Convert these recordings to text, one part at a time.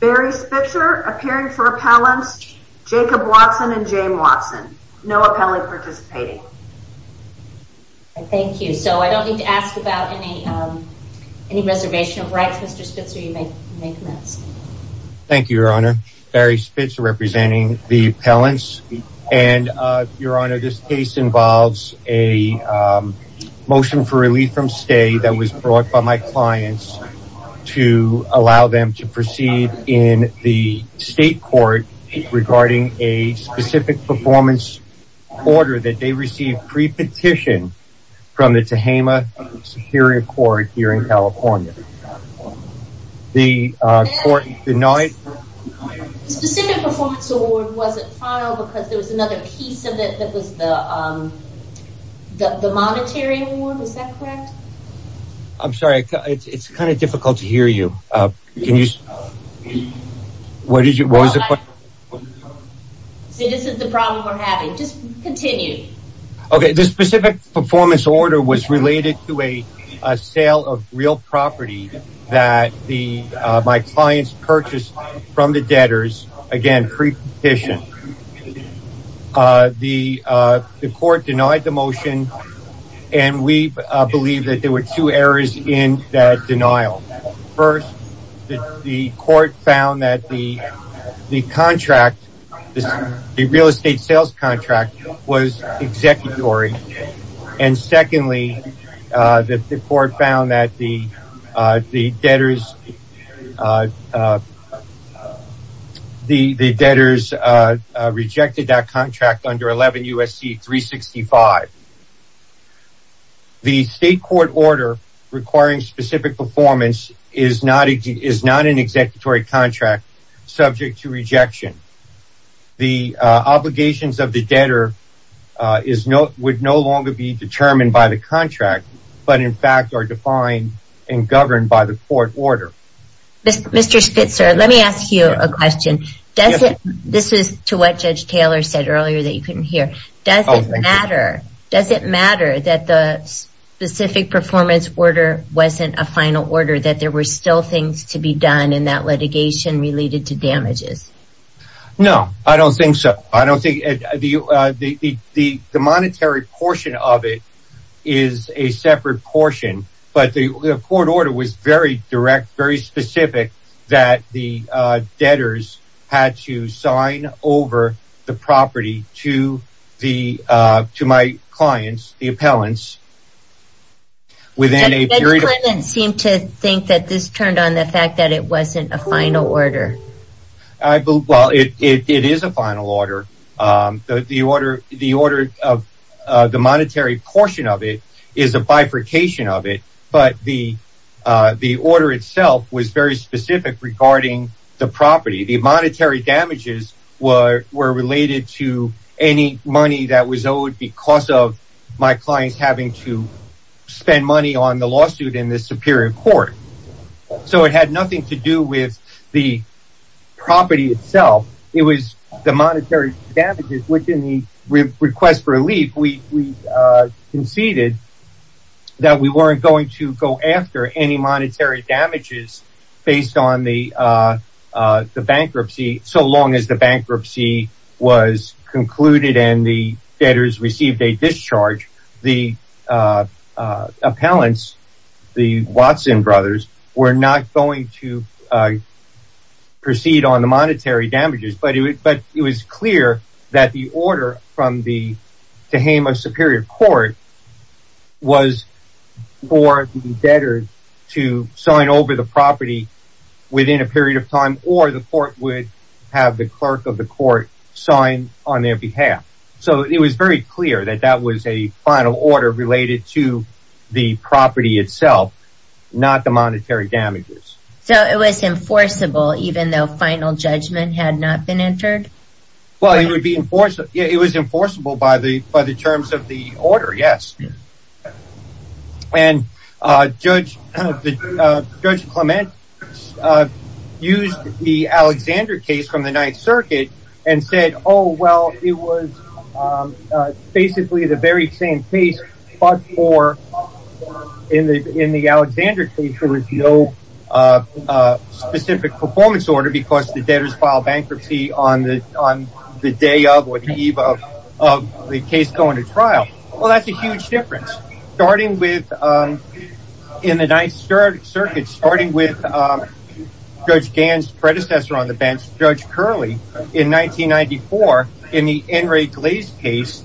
Barry Spitzer appearing for appellants, Jacob Watson and Jane Watson. No appellant participating. Thank you. So I don't need to ask about any reservation of rights, Mr. Spitzer. You may commence. Thank you, Your Honor. Barry Spitzer representing the appellants. And, Your Honor, this case involves a motion for relief from stay that was brought by my clients to allow them to proceed in the state court regarding a specific performance order that they received pre-petition from the Tehama Superior Court here in California. The court denied... The specific performance order wasn't filed because there was another piece of it that was the monetary award. Is that correct? I'm sorry. It's kind of difficult to hear you. Can you... What did you... See, this is the problem we're having. Just continue. Okay. The specific performance order was related to a sale of real property that my clients purchased from the debtors, again, pre-petition. The court denied the motion, and we believe that there were two errors in that denial. First, the court found that the contract, the real estate sales contract, was executory. And secondly, the court found that the debtors rejected that contract under 11 U.S.C. 365. The state court order requiring specific performance is not an executory contract subject to rejection. The obligations of the debtor would no longer be determined by the contract, but in fact are defined and governed by the court order. Mr. Spitzer, let me ask you a question. This is to what Judge Taylor said earlier that you couldn't hear. Does it matter that the specific performance order wasn't a final order, that there were still things to be done in that litigation related to damages? No, I don't think so. The monetary portion of it is a separate portion, but the court order was very direct, very specific, that the debtors had to sign over the property to my clients, the appellants, within a period of time. Judge Clement seemed to think that this turned on the fact that it wasn't a final order. Well, it is a final order. The order of the monetary portion of it is a bifurcation of it, but the order itself was very specific regarding the property. The monetary damages were related to any money that was owed because of my clients having to spend money on the lawsuit in the superior court. So it had nothing to do with the property itself. It was the monetary damages, which in the request for relief, we conceded that we weren't going to go after any monetary damages based on the bankruptcy. So long as the bankruptcy was concluded and the debtors received a discharge, the appellants, the Watson brothers, were not going to proceed on the monetary damages. But it was clear that the order from the Tehama Superior Court was for the debtors to sign over the property within a period of time or the court would have the clerk of the court sign on their behalf. So it was very clear that that was a final order related to the property itself, not the monetary damages. So it was enforceable even though final judgment had not been entered? Well, it was enforceable by the terms of the order, yes. And Judge Clement used the Alexander case from the Ninth Circuit and said, oh, well, it was basically the very same case, but in the Alexander case, there was no specific performance order because the debtors filed bankruptcy on the day of or the eve of the case going to trial. Well, that's a huge difference. Starting with, in the Ninth Circuit, starting with Judge Gann's predecessor on the bench, Judge Curley, in 1994, in the Henry Glaze case,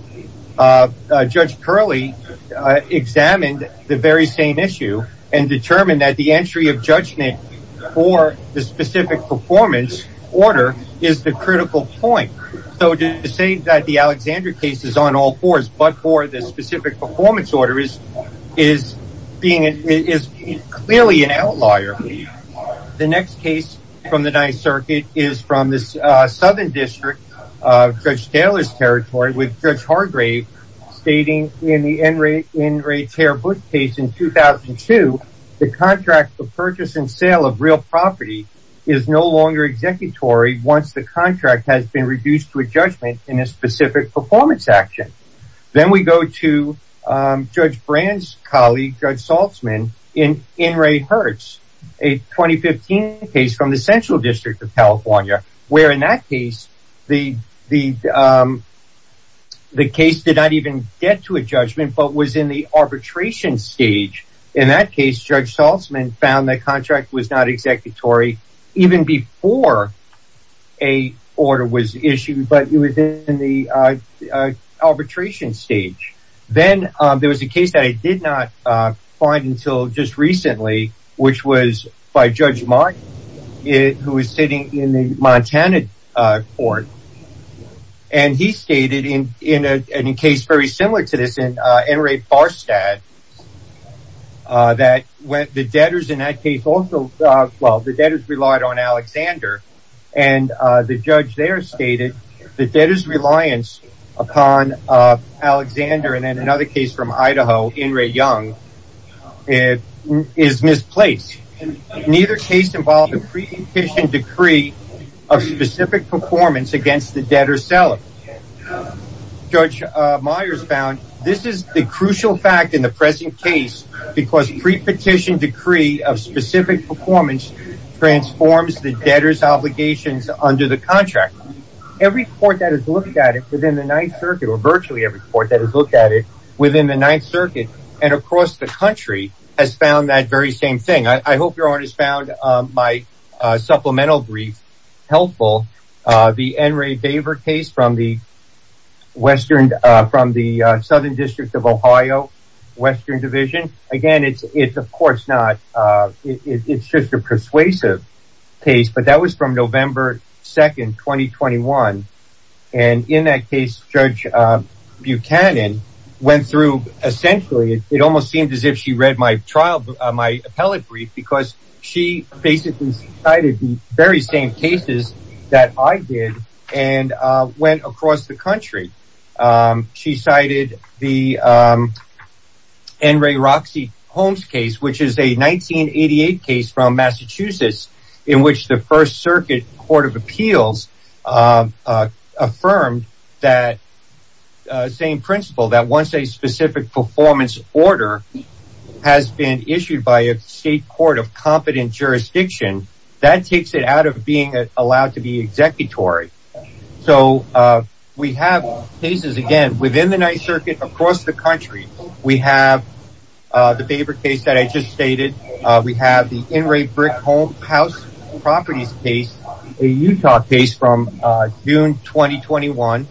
Judge Curley examined the very same issue and determined that the entry of judgment for the specific performance order is the critical point. So to say that the Alexander case is on all fours but for the specific performance order is clearly an outlier. The next case from the Ninth Circuit is from the Southern District of Judge Taylor's territory with Judge Hargrave stating in the In Re Tear Book case in 2002, the contract for purchase and sale of real property is no longer executory once the contract has been reduced to a judgment in a specific performance action. Then we go to Judge Brand's colleague, Judge Saltzman, in In Re Hertz, a 2015 case from the Central District of California, where in that case, the case did not even get to a judgment but was in the arbitration stage. In that case, Judge Saltzman found the contract was not executory even before a order was issued but it was in the arbitration stage. Then there was a case that I did not find until just recently, which was by Judge Martin, who was sitting in the Montana court, and he stated in a case very similar to this in In Re Farstad, that the debtors in that case relied on Alexander. The judge there stated the debtors' reliance upon Alexander and in another case from Idaho, In Re Young, is misplaced. Neither case involved a pre-petition decree of specific performance against the debtor's seller. Judge Myers found this is the crucial fact in the present case because pre-petition decree of specific performance transforms the debtor's obligations under the contract. Every court that has looked at it within the Ninth Circuit, or virtually every court that has looked at it within the Ninth Circuit and across the country, has found that very same thing. I hope your Honor has found my supplemental brief helpful. The N. Ray Baver case from the Southern District of Ohio, Western Division. Again, it's just a persuasive case, but that was from November 2, 2021. And in that case, Judge Buchanan went through essentially, it almost seemed as if she read my trial, my appellate brief, because she basically cited the very same cases that I did and went across the country. She cited the N. Ray Roxy Holmes case, which is a 1988 case from Massachusetts, in which the First Circuit Court of Appeals affirmed that same principle that once a specific performance order has been issued by a state court of competent jurisdiction, that takes it out of being allowed to be executory. So, we have cases, again, within the Ninth Circuit, across the country. We have the Baver case that I just stated. We have the N. Ray Brickhouse Properties case, a Utah case from June 2021,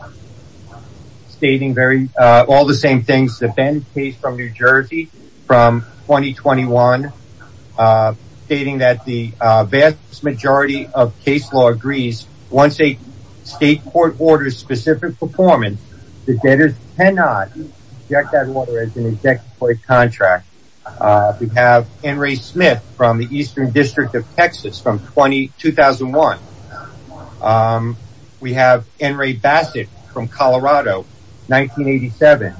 stating all the same things. The Ben case from New Jersey, from 2021, stating that the vast majority of case law agrees, once a state court orders specific performance, the debtors cannot reject that order as an executory contract. We have N. Ray Smith from the Eastern District of Texas, from 2001. We have N. Ray Bassett from Colorado, 1987.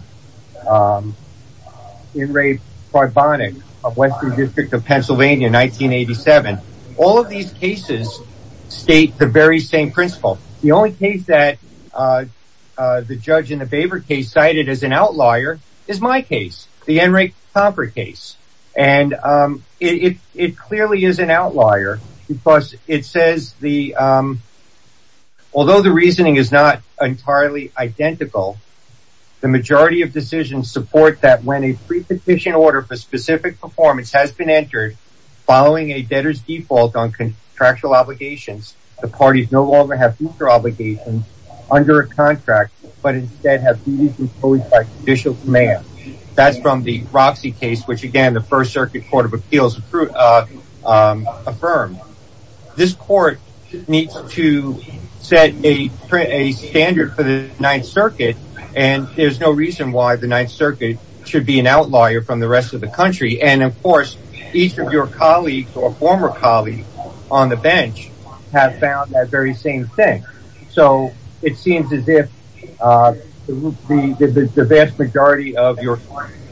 N. Ray Karbonik of Western District of Pennsylvania, 1987. All of these cases state the very same principle. The only case that the judge in the Baver case cited as an outlier is my case, the N. Ray Comfort case. It clearly is an outlier, because it says, although the reasoning is not entirely identical, the majority of decisions support that when a prepetition order for specific performance has been entered, following a debtor's default on contractual obligations, the parties no longer have future obligations under a contract, but instead have duties imposed by judicial command. That's from the Roxy case, which again, the First Circuit Court of Appeals affirmed. This court needs to set a standard for the Ninth Circuit, and there's no reason why the Ninth Circuit should be an outlier from the rest of the country. And, of course, each of your colleagues or former colleagues on the bench have found that very same thing. So it seems as if the vast majority of your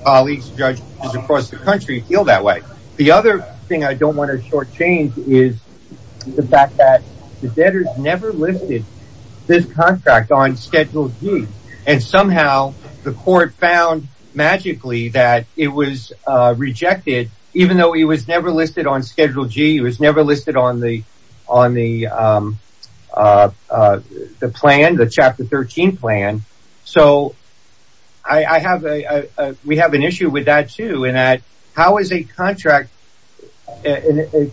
colleagues, judges across the country feel that way. The other thing I don't want to shortchange is the fact that the debtors never listed this contract on Schedule G. And somehow the court found magically that it was rejected, even though it was never listed on Schedule G, it was never listed on the plan, the Chapter 13 plan. So we have an issue with that, too, in that how is a contract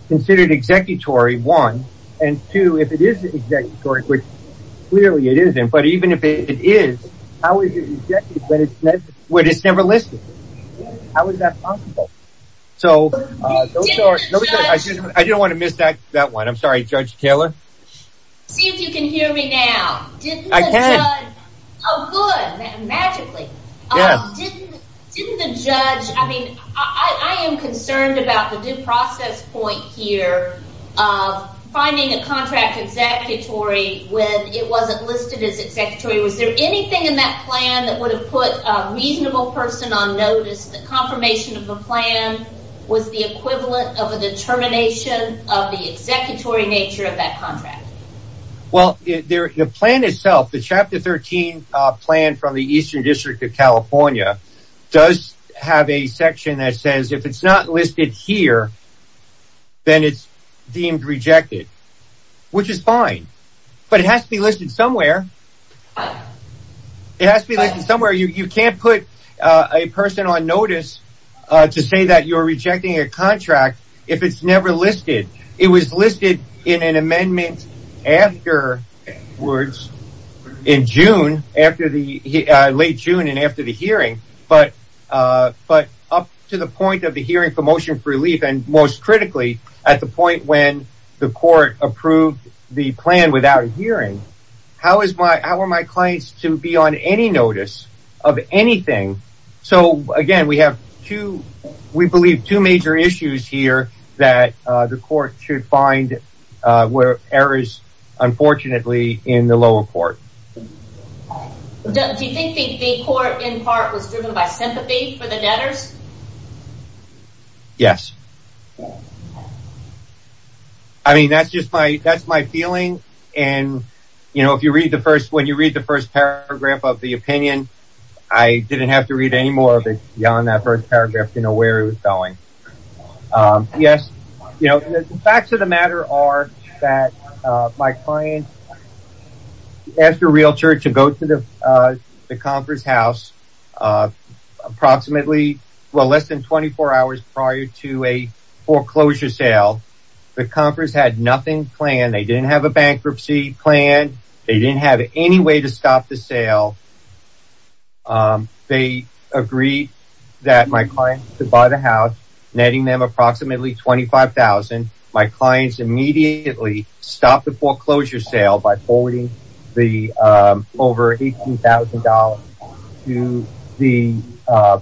considered executory, one, and two, if it is executory, which clearly it isn't, but even if it is, how is it executed when it's never listed? How is that possible? So I didn't want to miss that one. I'm sorry, Judge Taylor. See if you can hear me now. I can. Oh, good, magically. Yeah. Didn't the judge – I mean, I am concerned about the due process point here of finding a contract executory when it wasn't listed as executory. Was there anything in that plan that would have put a reasonable person on notice that confirmation of a plan was the equivalent of a determination of the executory nature of that contract? Well, the plan itself, the Chapter 13 plan from the Eastern District of California does have a section that says if it's not listed here, then it's deemed rejected, which is fine. But it has to be listed somewhere. It has to be listed somewhere. You can't put a person on notice to say that you're rejecting a contract if it's never listed. It was listed in an amendment afterwards in June, late June and after the hearing. But up to the point of the hearing for motion for relief and most critically at the point when the court approved the plan without a hearing, how are my clients to be on any notice of anything? So, again, we have two – we believe two major issues here that the court should find were errors, unfortunately, in the lower court. Do you think the court in part was driven by sympathy for the debtors? Yes. I mean, that's just my – that's my feeling. And, you know, if you read the first – when you read the first paragraph of the opinion, I didn't have to read any more of it beyond that first paragraph to know where it was going. Yes. You know, the facts of the matter are that my client asked a realtor to go to the conference house approximately – well, less than 24 hours prior to a foreclosure sale. The conference had nothing planned. They didn't have a bankruptcy planned. They didn't have any way to stop the sale. They agreed that my client could buy the house, netting them approximately $25,000. My clients immediately stopped the foreclosure sale by forwarding the – over $18,000 to the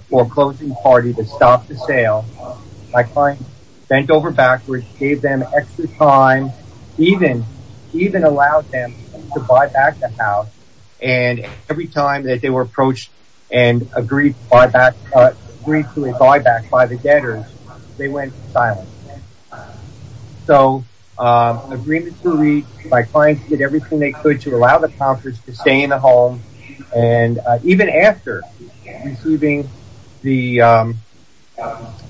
foreclosing party to stop the sale. My client bent over backwards, gave them extra time, even allowed them to buy back the house. And every time that they were approached and agreed to buy back by the debtors, they went silent. So, an agreement was reached. My clients did everything they could to allow the conference to stay in the home. And even after receiving the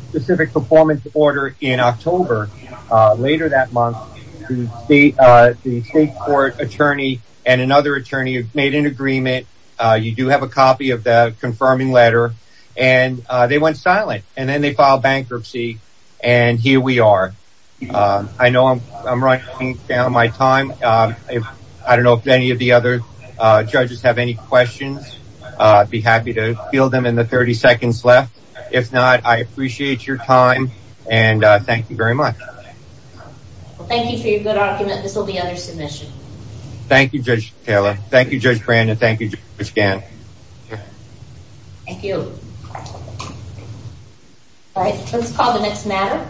specific performance order in October, later that month, the state court attorney and another attorney made an agreement. You do have a copy of the confirming letter. And they went silent. And then they filed bankruptcy. And here we are. I know I'm running down my time. I don't know if any of the other judges have any questions. I'd be happy to field them in the 30 seconds left. If not, I appreciate your time. And thank you very much. Thank you for your good argument. This will be under submission. Thank you, Judge Taylor. Thank you, Judge Brandon. Thank you, Judge Gant. Thank you. All right, let's call the next matter.